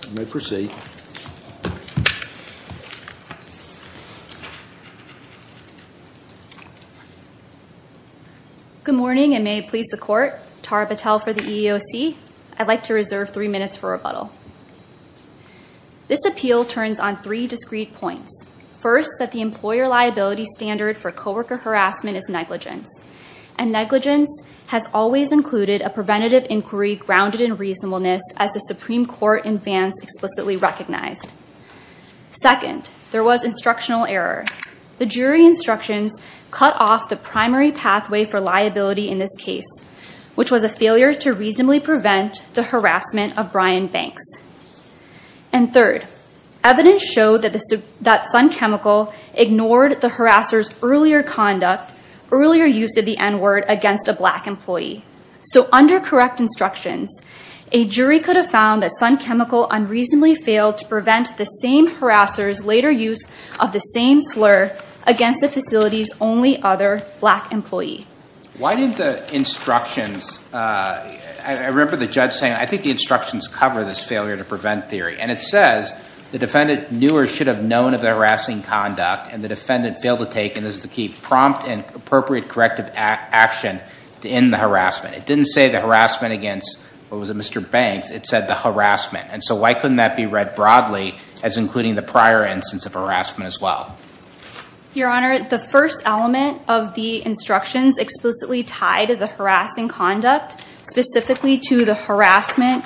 Good morning, and may it please the Court. Tara Patel for the EEOC. I'd like to reserve three minutes for rebuttal. This appeal turns on three discrete points. First, that the employer liability standard for coworker harassment is negligence, and negligence has always included a preventative inquiry grounded in reasonableness as the Supreme Court in Vance explicitly recognized. Second, there was instructional error. The jury instructions cut off the primary pathway for liability in this case, which was a failure to reasonably prevent the harassment of Brian Banks. And third, evidence showed that Sun Chemical ignored the harasser's earlier conduct, earlier use of the N-word against a black employee. So under correct instructions, a jury could have found that Sun Chemical unreasonably failed to prevent the same harasser's later use of the same slur against the facility's only other black employee. Why did the instructions, I remember the judge saying, I think the instructions cover this failure to prevent theory. And it says, the defendant knew or should have known of the appropriate corrective action to end the harassment. It didn't say the harassment against, what was it, Mr. Banks, it said the harassment. And so why couldn't that be read broadly as including the prior instance of harassment as well? Your Honor, the first element of the instructions explicitly tied the harassing conduct specifically to the harassment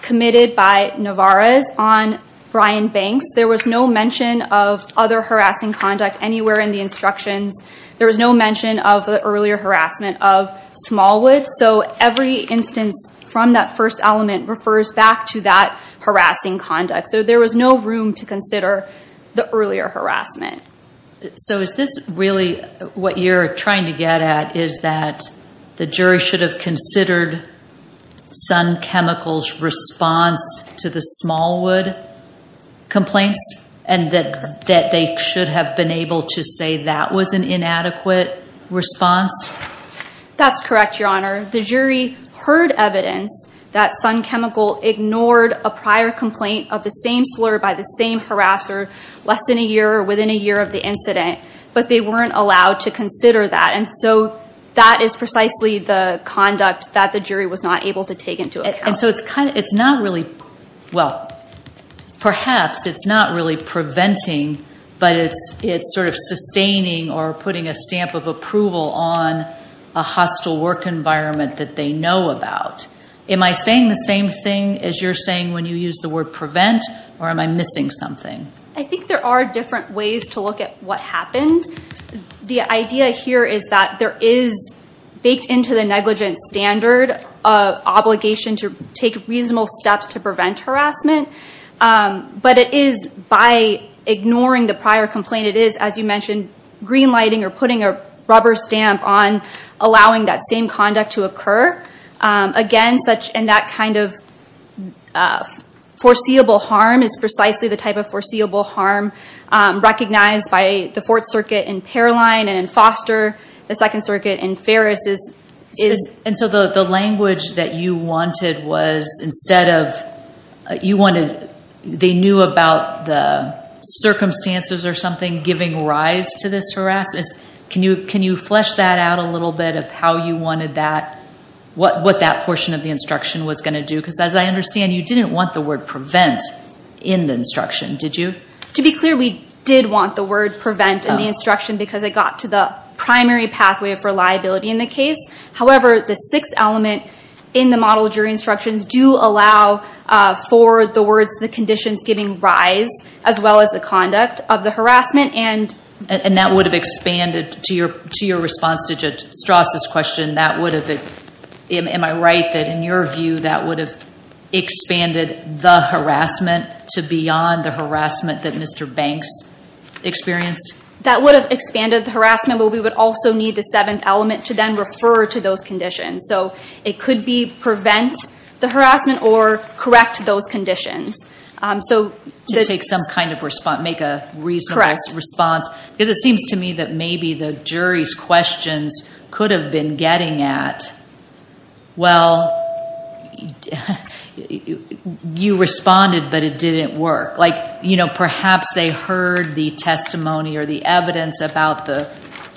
committed by Navarez on Brian Banks. There was no mention of other harassing conduct anywhere in the instructions. There was no mention of the earlier harassment of Smallwood. So every instance from that first element refers back to that harassing conduct. So there was no room to consider the earlier harassment. So is this really what you're trying to get at, is that the jury should have considered Sun Chemical's response to the Smallwood complaints and that they should have been able to say that was an inadequate response? That's correct, Your Honor. The jury heard evidence that Sun Chemical ignored a prior complaint of the same slur by the same harasser less than a year or within a year of the incident, but they weren't allowed to consider that. And so that is precisely the conduct that the jury was not able to take into account. And so it's not really, well, perhaps it's not really preventing, but it's sort of sustaining or putting a stamp of approval on a hostile work environment that they know about. Am I saying the same thing as you're saying when you use the word prevent, or am I missing something? I think there are different ways to look at what happened. The idea here is that there is baked into the negligence standard obligation to take reasonable steps to prevent harassment. But it is by ignoring the prior complaint, it is, as you mentioned, green lighting or putting a rubber stamp on allowing that same conduct to occur. Again, such and that kind of foreseeable harm is precisely the type of foreseeable harm recognized by the Fourth Circuit and Ferris. And so the language that you wanted was instead of, you wanted, they knew about the circumstances or something giving rise to this harassment. Can you flesh that out a little bit of how you wanted that, what that portion of the instruction was going to do? Because as I understand, you didn't want the word prevent in the instruction, did you? To be clear, we did want the word prevent in the instruction because it got to the primary pathway for liability in the case. However, the sixth element in the model jury instructions do allow for the words, the conditions giving rise, as well as the conduct of the harassment. And that would have expanded, to your response to Judge Strauss' question, that would have been, am I right that in your view that would have expanded the harassment to beyond the harassment that Mr. Banks experienced? That would have expanded the harassment, but we would also need the seventh element to then refer to those conditions. So it could be prevent the harassment or correct those conditions. So to take some kind of response, make a reasonable response, because it seems to me that maybe the jury's questions could have been getting at, well, you responded, but it didn't work. Perhaps they heard the testimony or the evidence about the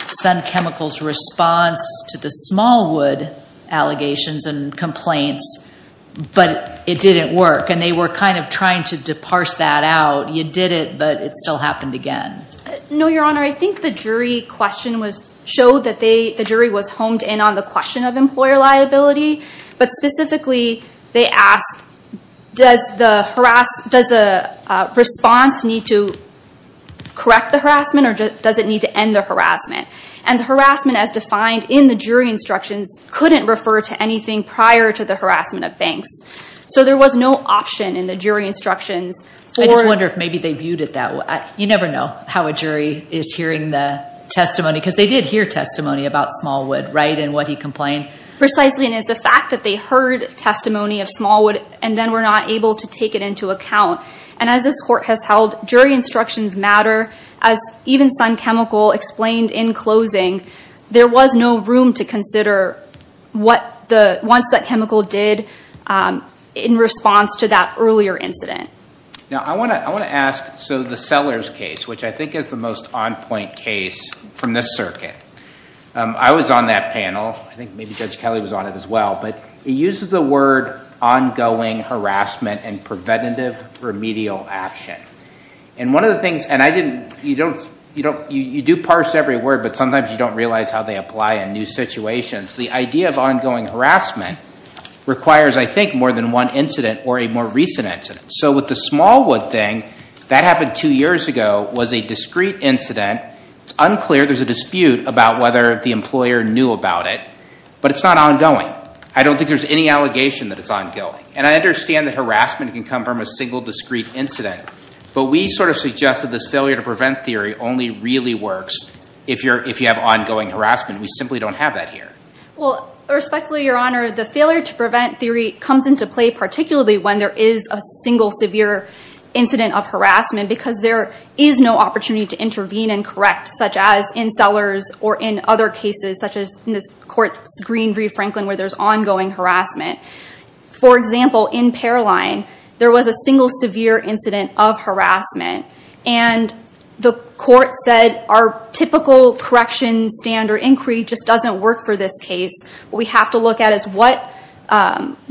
Sun Chemicals' response to the Smallwood allegations and complaints, but it didn't work. And they were kind of trying to parse that out. You did it, but it still happened again. No, Your Honor. I think the jury question showed that the jury was honed in on the question of employer liability, but specifically they asked, does the response need to correct the harassment or does it need to end the harassment? And the harassment, as defined in the jury instructions, couldn't refer to anything prior to the harassment of Banks. So there was no option in the jury instructions for- I just wonder if maybe they viewed it that way. You never know how a jury is hearing the testimony, because they did hear testimony about Smallwood, right, and what he complained. Precisely, and it's the fact that they heard testimony of Smallwood and then were not able to take it into account. And as this Court has held, jury instructions matter. As even Sun Chemical explained in closing, there was no room to consider what the- once that chemical did in response to that earlier incident. Now, I want to ask, so the Sellers case, which I think is the most on-point case from this circuit, I was on that panel. I think maybe Judge Kelly was on it as well. But it uses the word ongoing harassment and preventative remedial action. And one of the things- and I didn't- you do parse every word, but sometimes you don't realize how they apply in new situations. The idea of ongoing harassment requires, I think, more than one incident or a more recent incident. So with the Smallwood thing, that happened two years ago, was a discrete incident. It's unclear. There's a dispute about whether the employer knew about it. But it's not ongoing. I don't think there's any allegation that it's ongoing. And I understand that harassment can come from a single discrete incident. But we sort of suggest that this failure to prevent theory only really works if you have ongoing harassment. We simply don't have that here. Well, respectfully, Your Honor, the failure to prevent theory comes into play particularly when there is a single severe incident of harassment, because there is no opportunity to intervene and correct, such as in Sellers or in other cases, such as in this court's Green v. Franklin, where there's ongoing harassment. For example, in Paroline, there was a single severe incident of harassment. And the court said, our typical correction standard inquiry just doesn't work for this case. What we have to look at is what-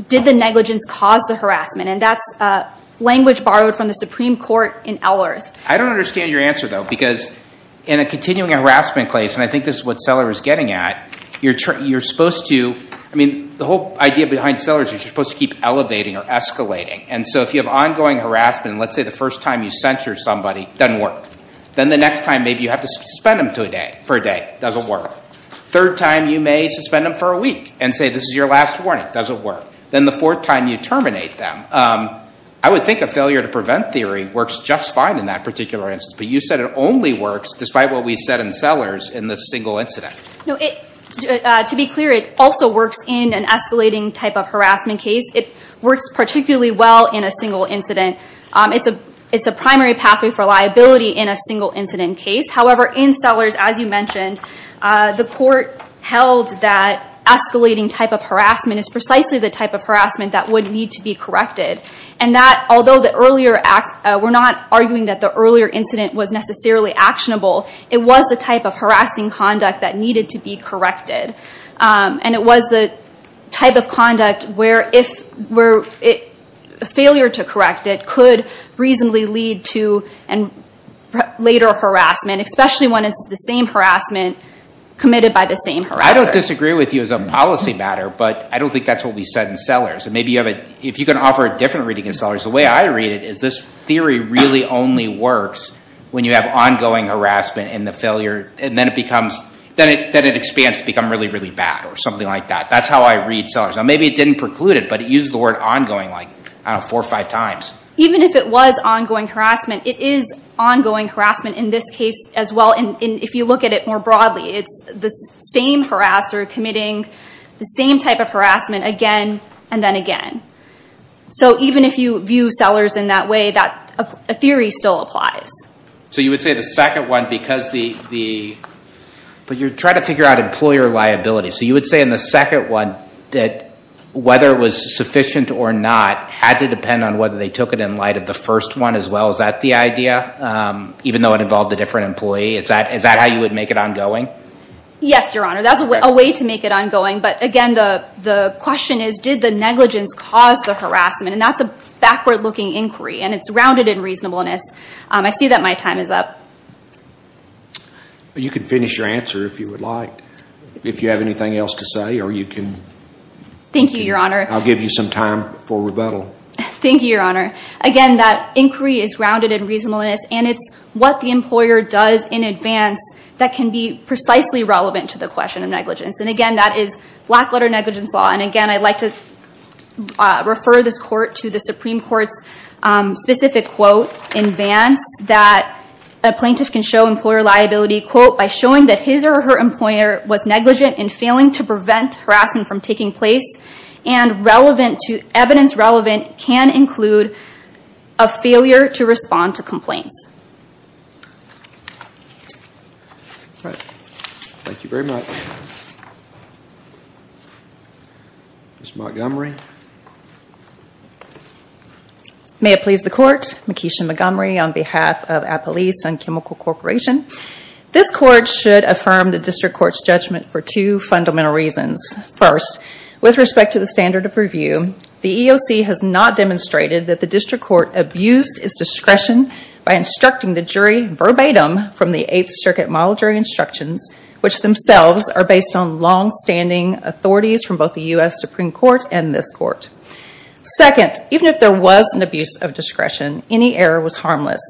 did the negligence cause the harassment? And that's language borrowed from the Supreme Court in Allerth. I don't understand your answer, though, because in a continuing harassment case, and I think this is what Seller is getting at, you're supposed to- I mean, the whole idea behind Sellers is you're supposed to keep elevating or escalating. And so if you have ongoing harassment, let's say the first time you censure somebody, doesn't work. Then the next time, maybe you have to suspend them for a day, doesn't work. Third time, you may suspend them for a week and say, this is your last warning, doesn't work. Then the fourth time you terminate them. I would think a failure to prevent theory works just fine in that particular instance. But you said it only works, despite what we said in Sellers, in the single incident. No, it- to be clear, it also works in an escalating type of harassment case. It works particularly well in a single incident. It's a primary pathway for liability in a single incident case. However, in Sellers, as you mentioned, the court held that escalating type of harassment is precisely the type of harassment that would need to be corrected. And that, although the earlier act- we're not arguing that the earlier incident was necessarily actionable, it was the type of harassing conduct that needed to be corrected. And it was the type of conduct where if- where it- failure to correct it could reasonably lead to later harassment, especially when it's the same harassment committed by the same harasser. I don't disagree with you as a policy matter, but I don't think that's what we said in Sellers. Maybe you have a- if you can offer a different reading in Sellers, the way I read it is this theory really only works when you have ongoing harassment in the failure- and then it becomes- then it expands to become really, really bad, or something like that. That's how I read Sellers. Now maybe it didn't preclude it, but it used the word ongoing like, I don't know, four or five times. Even if it was ongoing harassment, it is ongoing harassment in this case as well. And if you look at it more broadly, it's the same harasser committing the same type of harassment again and then again. So even if you view Sellers in that way, that- a theory still applies. So you would say the second one, because the- but you're trying to figure out employer liability. So you would say in the second one that whether it was sufficient or not had to depend on whether they took it in light of the first one as well. Is that the idea? Even though it involved a different employee? Is that how you would make it ongoing? Yes, Your Honor. That's a way to make it ongoing. But again, the question is, did the negligence cause the harassment? And that's a backward-looking inquiry, and it's rounded in reasonableness. I see that my time is up. You can finish your answer if you would like, if you have anything else to say, or you can- Thank you, Your Honor. I'll give you some time for rebuttal. Thank you, Your Honor. Again, that inquiry is rounded in reasonableness, and it's what the employer does in advance that can be precisely relevant to the question of negligence. And again, that is black-letter negligence law. And again, I'd like to refer this court to the Supreme Court's specific quote in advance that a plaintiff can show employer liability quote, by showing that his or her employer was negligent in failing to prevent harassment from taking place, and evidence relevant can include a failure to respond to complaints. Thank you very much. Ms. Montgomery. May it please the Court. Makisha Montgomery on behalf of Appalachian Chemical Corporation. This Court should affirm the District Court's judgment for two fundamental reasons. First, with respect to the standard of review, the EEOC has not demonstrated that the District Court abused its discretion by instructing the jury verbatim from the Eighth Circuit Model Jury Instructions, which themselves are based on long-standing authorities from both the U.S. Supreme Court and this Court. Second, even if there was an abuse of discretion, any error was harmless.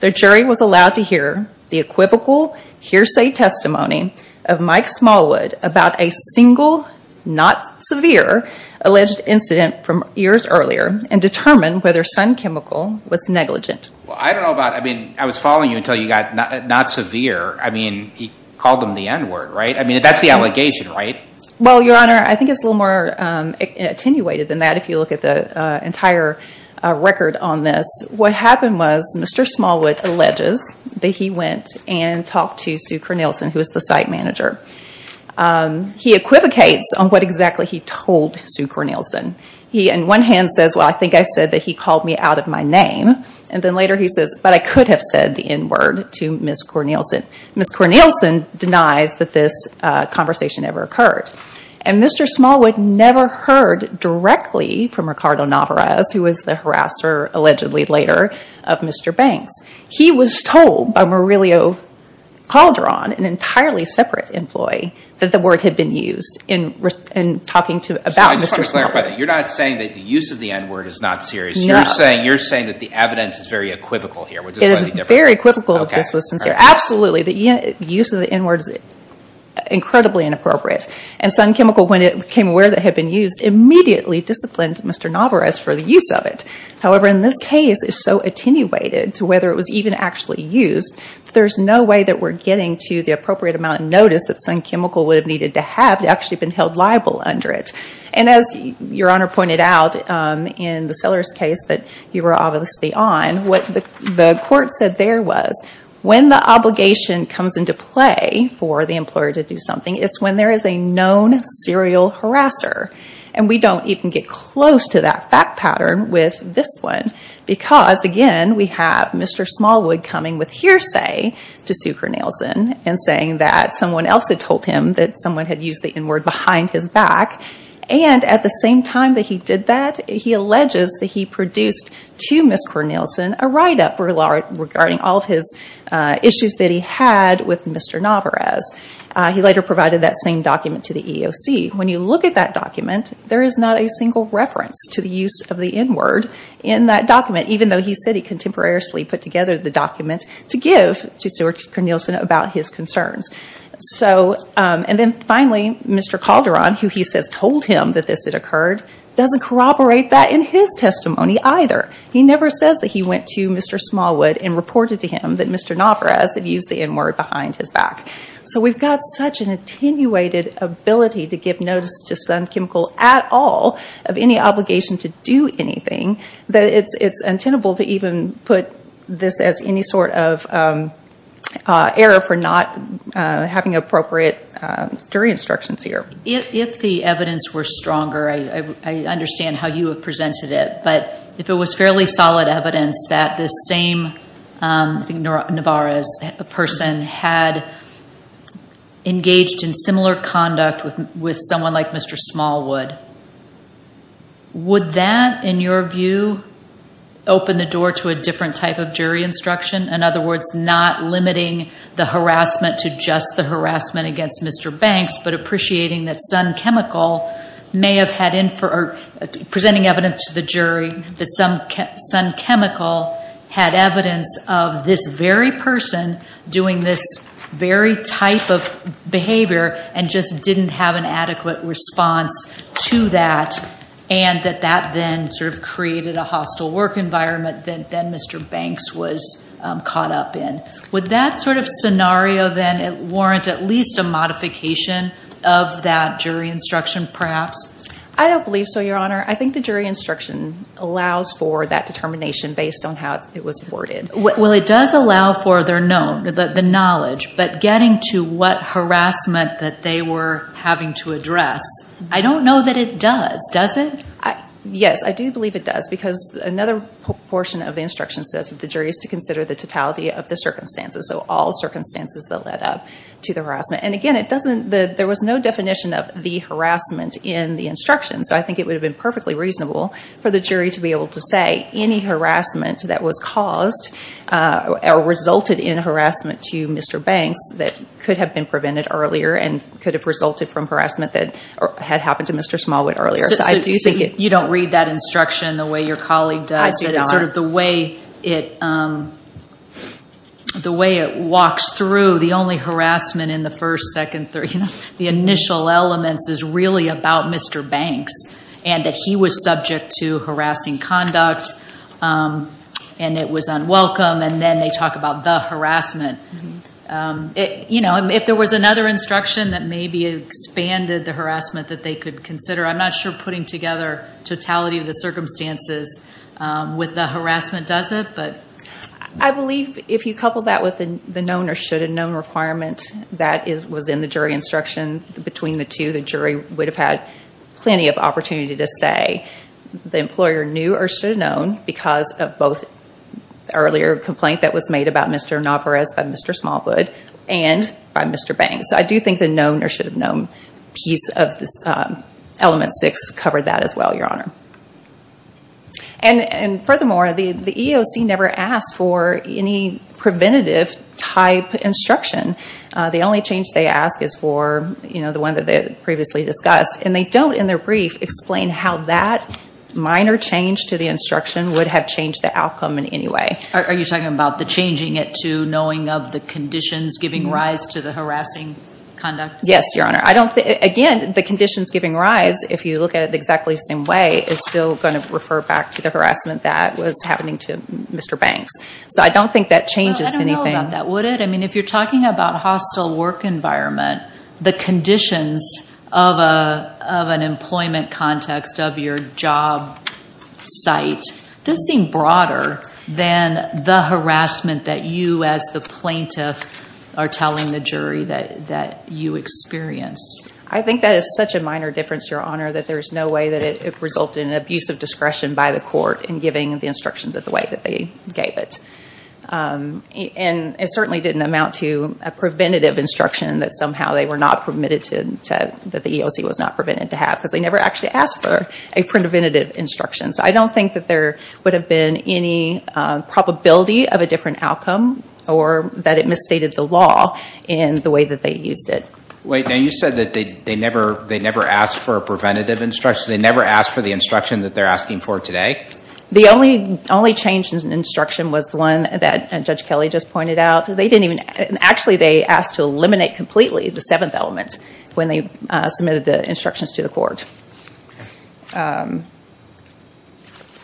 The jury was allowed to hear the equivocal hearsay testimony of Mike Smallwood about a single, not severe, alleged incident from years earlier, and determine whether Sun Chemical was negligent. Well, I don't know about, I mean, I was following you until you got not severe. I mean, you called them the N-word, right? I mean, that's the allegation, right? Well, Your Honor, I think it's a little more attenuated than that if you look at the entire record on this. What happened was Mr. Smallwood alleges that he went and talked to Sue Cornelison, who is the site manager. He equivocates on what exactly he told Sue Cornelison. He, on one hand, says, well, I think I said that he called me out of my name. And then later he says, but I could have said the N-word to Ms. Cornelison. Ms. Cornelison denies that this conversation ever occurred. And Mr. Smallwood never heard directly from Ricardo Navarez, who was the harasser, allegedly later, of Mr. Banks. He was told by Murillo Calderon, an entirely separate employee, that the word had been used in talking to, about Mr. Smallwood. So I just want to clarify that. You're not saying that the use of the N-word is not serious. No. You're saying that the evidence is very equivocal here. It is very equivocal if this was sincere. Absolutely, the use of the N-word is incredibly inappropriate. And Sun Chemical, when it became aware that it had been used, immediately disciplined Mr. Navarez for the use of it. However, in this case, it's so attenuated to whether it was even actually used that there's no way that we're getting to the appropriate amount of notice that Sun Chemical would have needed to have to actually have been held liable under it. And as Your Honor pointed out in the Sellers case that you were obviously on, what the court said there was, when the obligation comes into play for the employer to do something, it's when there is a known serial harasser. And we don't even get close to that fact pattern with this one because, again, we have Mr. Smallwood coming with hearsay to sue Cornelison and saying that someone else had told him that someone had used the N-word behind his back. And at the same time that he did that, he alleges that he produced to Ms. Cornelison a write-up regarding all of his issues that he had with Mr. Navarez. He later provided that same document to the EEOC. When you look at that document, there is not a single reference to the use of the N-word in that document, even though he said he contemporarily put together the document to give to Sue Cornelison about his concerns. And then finally, Mr. Calderon, who he says told him that this had occurred, doesn't corroborate that in his testimony either. He never says that he went to Mr. Smallwood and reported to him that Mr. Navarez had used the N-word behind his back. So we've got such an attenuated ability to give notice to Sun Chemical at all of any obligation to do anything that it's untenable to even put this as any sort of error for not having appropriate jury instructions here. If the evidence were stronger, I understand how you have presented it. But if it was fairly clear that Mr. Navarez, a person, had engaged in similar conduct with someone like Mr. Smallwood, would that, in your view, open the door to a different type of jury instruction? In other words, not limiting the harassment to just the harassment against Mr. Banks, but appreciating that Sun Chemical may have had info, or presenting evidence to the jury that Sun Chemical had evidence of this very person doing this very type of behavior, and just didn't have an adequate response to that, and that that then sort of created a hostile work environment that then Mr. Banks was caught up in. Would that sort of scenario then warrant at least a modification of that jury instruction, perhaps? I don't believe so, Your Honor. I think the jury instruction allows for that determination based on how it was worded. Well, it does allow for the knowledge, but getting to what harassment that they were having to address, I don't know that it does, does it? Yes, I do believe it does, because another portion of the instruction says that the jury is to consider the totality of the circumstances, so all circumstances that led up to the harassment. And again, there was no definition of the harassment in the instruction, so I think it would have been perfectly reasonable for the jury to be able to say any harassment that was caused, or resulted in harassment to Mr. Banks that could have been prevented earlier, and could have resulted from harassment that had happened to Mr. Smallwood earlier. So, you don't read that instruction the way your colleague does, that it's sort of the way it walks through, the only harassment in the first, second, third, the initial elements is really about Mr. Banks, and that he was subject to harassing conduct, and it was unwelcome, and then they talk about the harassment. You know, if there was another instruction that maybe expanded the harassment that they could consider, I'm not sure putting together totality of the circumstances with the harassment does it, but. I believe if you couple that with the known or should have known requirement, that was in the jury instruction between the two, the jury would have had plenty of opportunity to say the employer knew or should have known, because of both earlier complaint that was made about Mr. Navarez by Mr. Smallwood, and by Mr. Banks. I do think the known or should have known piece of this element six covered that as well, your honor. And furthermore, the EEOC never asked for any preventative type instruction. The only change they ask is for, you know, the one that they previously discussed, and they don't in their brief explain how that minor change to the instruction would have changed the outcome in any way. Are you talking about the changing it to knowing of the conditions giving rise to the harassing conduct? Yes, your honor. I don't think, again, the conditions giving rise, if you look at it exactly the same way, is still going to refer back to the harassment that was happening to Mr. Banks. So I don't think that changes anything. If you're talking about hostile work environment, the conditions of an employment context of your job site does seem broader than the harassment that you as the plaintiff are telling the jury that you experienced. I think that is such a minor difference, your honor, that there is no way that it resulted in abuse of discretion by the court in giving the instructions the way that they gave it. And it certainly didn't amount to a preventative instruction that somehow they were not permitted to have, that the EEOC was not permitted to have, because they never actually asked for a preventative instruction. So I don't think that there would have been any probability of a different outcome or that it misstated the law in the way that they used it. Wait, now you said that they never asked for a preventative instruction. They never asked for the instruction that they're asking for today? The only change in instruction was the one that Judge Kelley just pointed out. Actually they asked to eliminate completely the seventh element when they submitted the instructions to the court.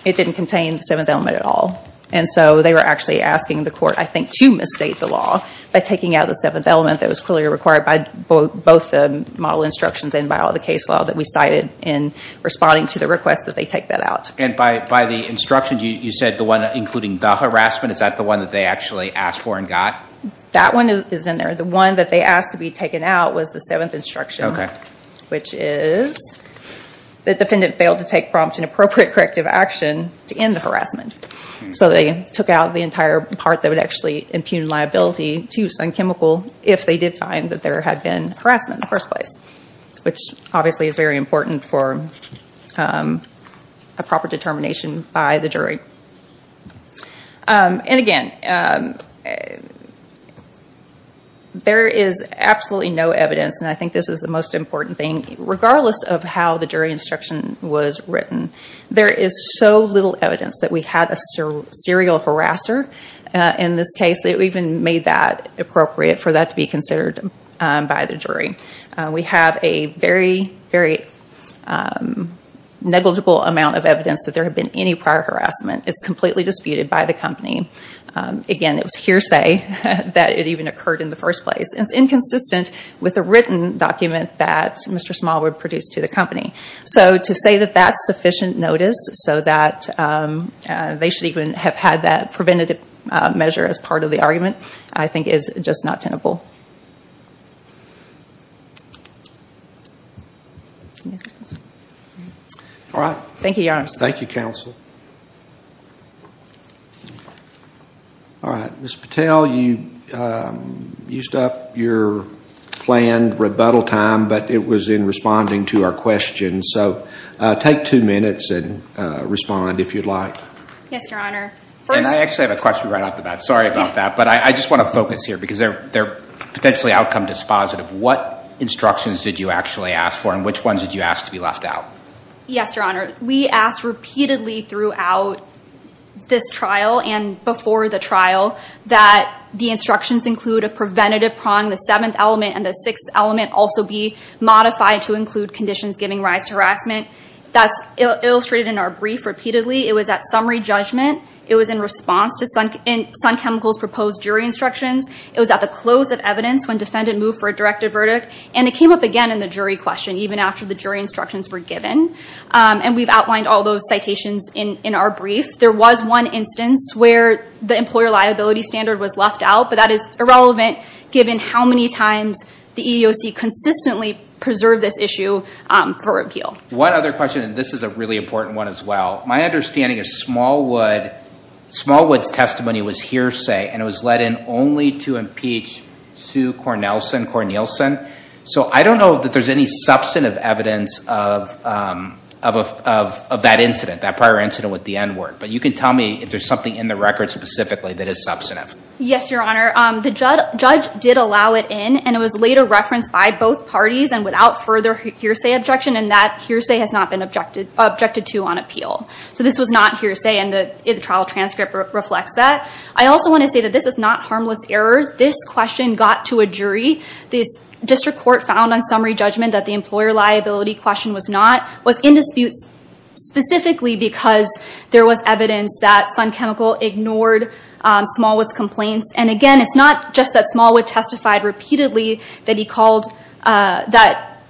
It didn't contain the seventh element at all. And so they were actually asking the court, I think, to misstate the law by taking out the seventh element that was clearly required by both the model instructions and by all the case law that we cited in responding to the request that they take that out. And by the instructions, you said the one including the harassment, is that the one that they actually asked for and got? That one is in there. The one that they asked to be taken out was the seventh instruction, which is the defendant failed to take prompt and appropriate corrective action to end the harassment. So they took out the entire part that would actually impugn liability to use non-chemical if they did find that there had been harassment in the first place, which obviously is very important for a proper determination by the jury. And again, there is absolutely no evidence, and I think this is the most important thing, regardless of how the jury instruction was written, there is so little evidence that we had a serial harasser in this case that we even made that appropriate for that to be considered by the jury. We have a very, very negligible amount of evidence that there had been any prior harassment. It's completely disputed by the company. Again, it was hearsay that it even occurred in the first place. It's inconsistent with the written document that Mr. Smallwood produced to the company. So to say that that's sufficient notice so that they should even have had that preventative measure as part of the argument, I think is just not tenable. Thank you, Your Honor. Thank you, Counsel. All right. Ms. Patel, you used up your planned rebuttal time, but it was in responding to our questions. So take two minutes and respond if you'd like. Yes, Your Honor. And I actually have a question right off the bat. Sorry about that. But I just want to focus here because they're potentially outcome dispositive. What instructions did you actually ask for and which ones did you ask to be left out? Yes, Your Honor. We asked repeatedly throughout this trial and before the trial that the instructions include a preventative prong, the seventh element, and the sixth element also be modified to include conditions giving rise to harassment. That's illustrated in our brief repeatedly. It was at summary judgment. It was in response to Sun Chemical's proposed jury instructions. It was at the close of evidence when defendant moved for a directive verdict. And it came up again in the jury question, even after the jury instructions were given. And we've outlined all those citations in our brief. There was one instance where the employer liability standard was left out, but that is irrelevant given how many times the EEOC consistently preserved this issue for appeal. One other question, and this is a really important one as well. My understanding is Smallwood's testimony was hearsay, and it was let in only to impeach Sue Cornelison. So I don't know that there's any substantive evidence of that incident, that prior incident with the N-word. But you can tell me if there's something in the record specifically that is substantive. Yes, Your Honor. The judge did allow it in, and it was later referenced by both parties and without further hearsay objection, and that hearsay has not been objected to on appeal. So this was not hearsay, and the trial transcript reflects that. I also want to say that this is not harmless error. This question got to a jury. The district court found on summary judgment that the employer liability question was not, was in dispute specifically because there was evidence that Sun Chemical ignored Smallwood's complaints. And again, it's not just that Smallwood testified repeatedly that he called, that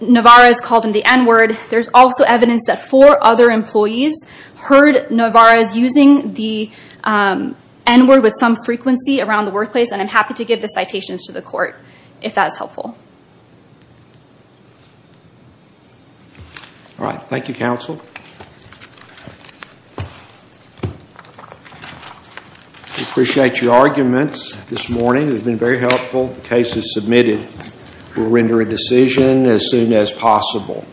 Navarro's called him the N-word. There's also evidence that four other employees heard Navarro's using the N-word with some frequency around the workplace, and I'm happy to give the citations to the court if that's helpful. All right. Thank you, counsel. We appreciate your arguments this morning. They've been very helpful. The case is submitted. We'll render a decision as soon as possible.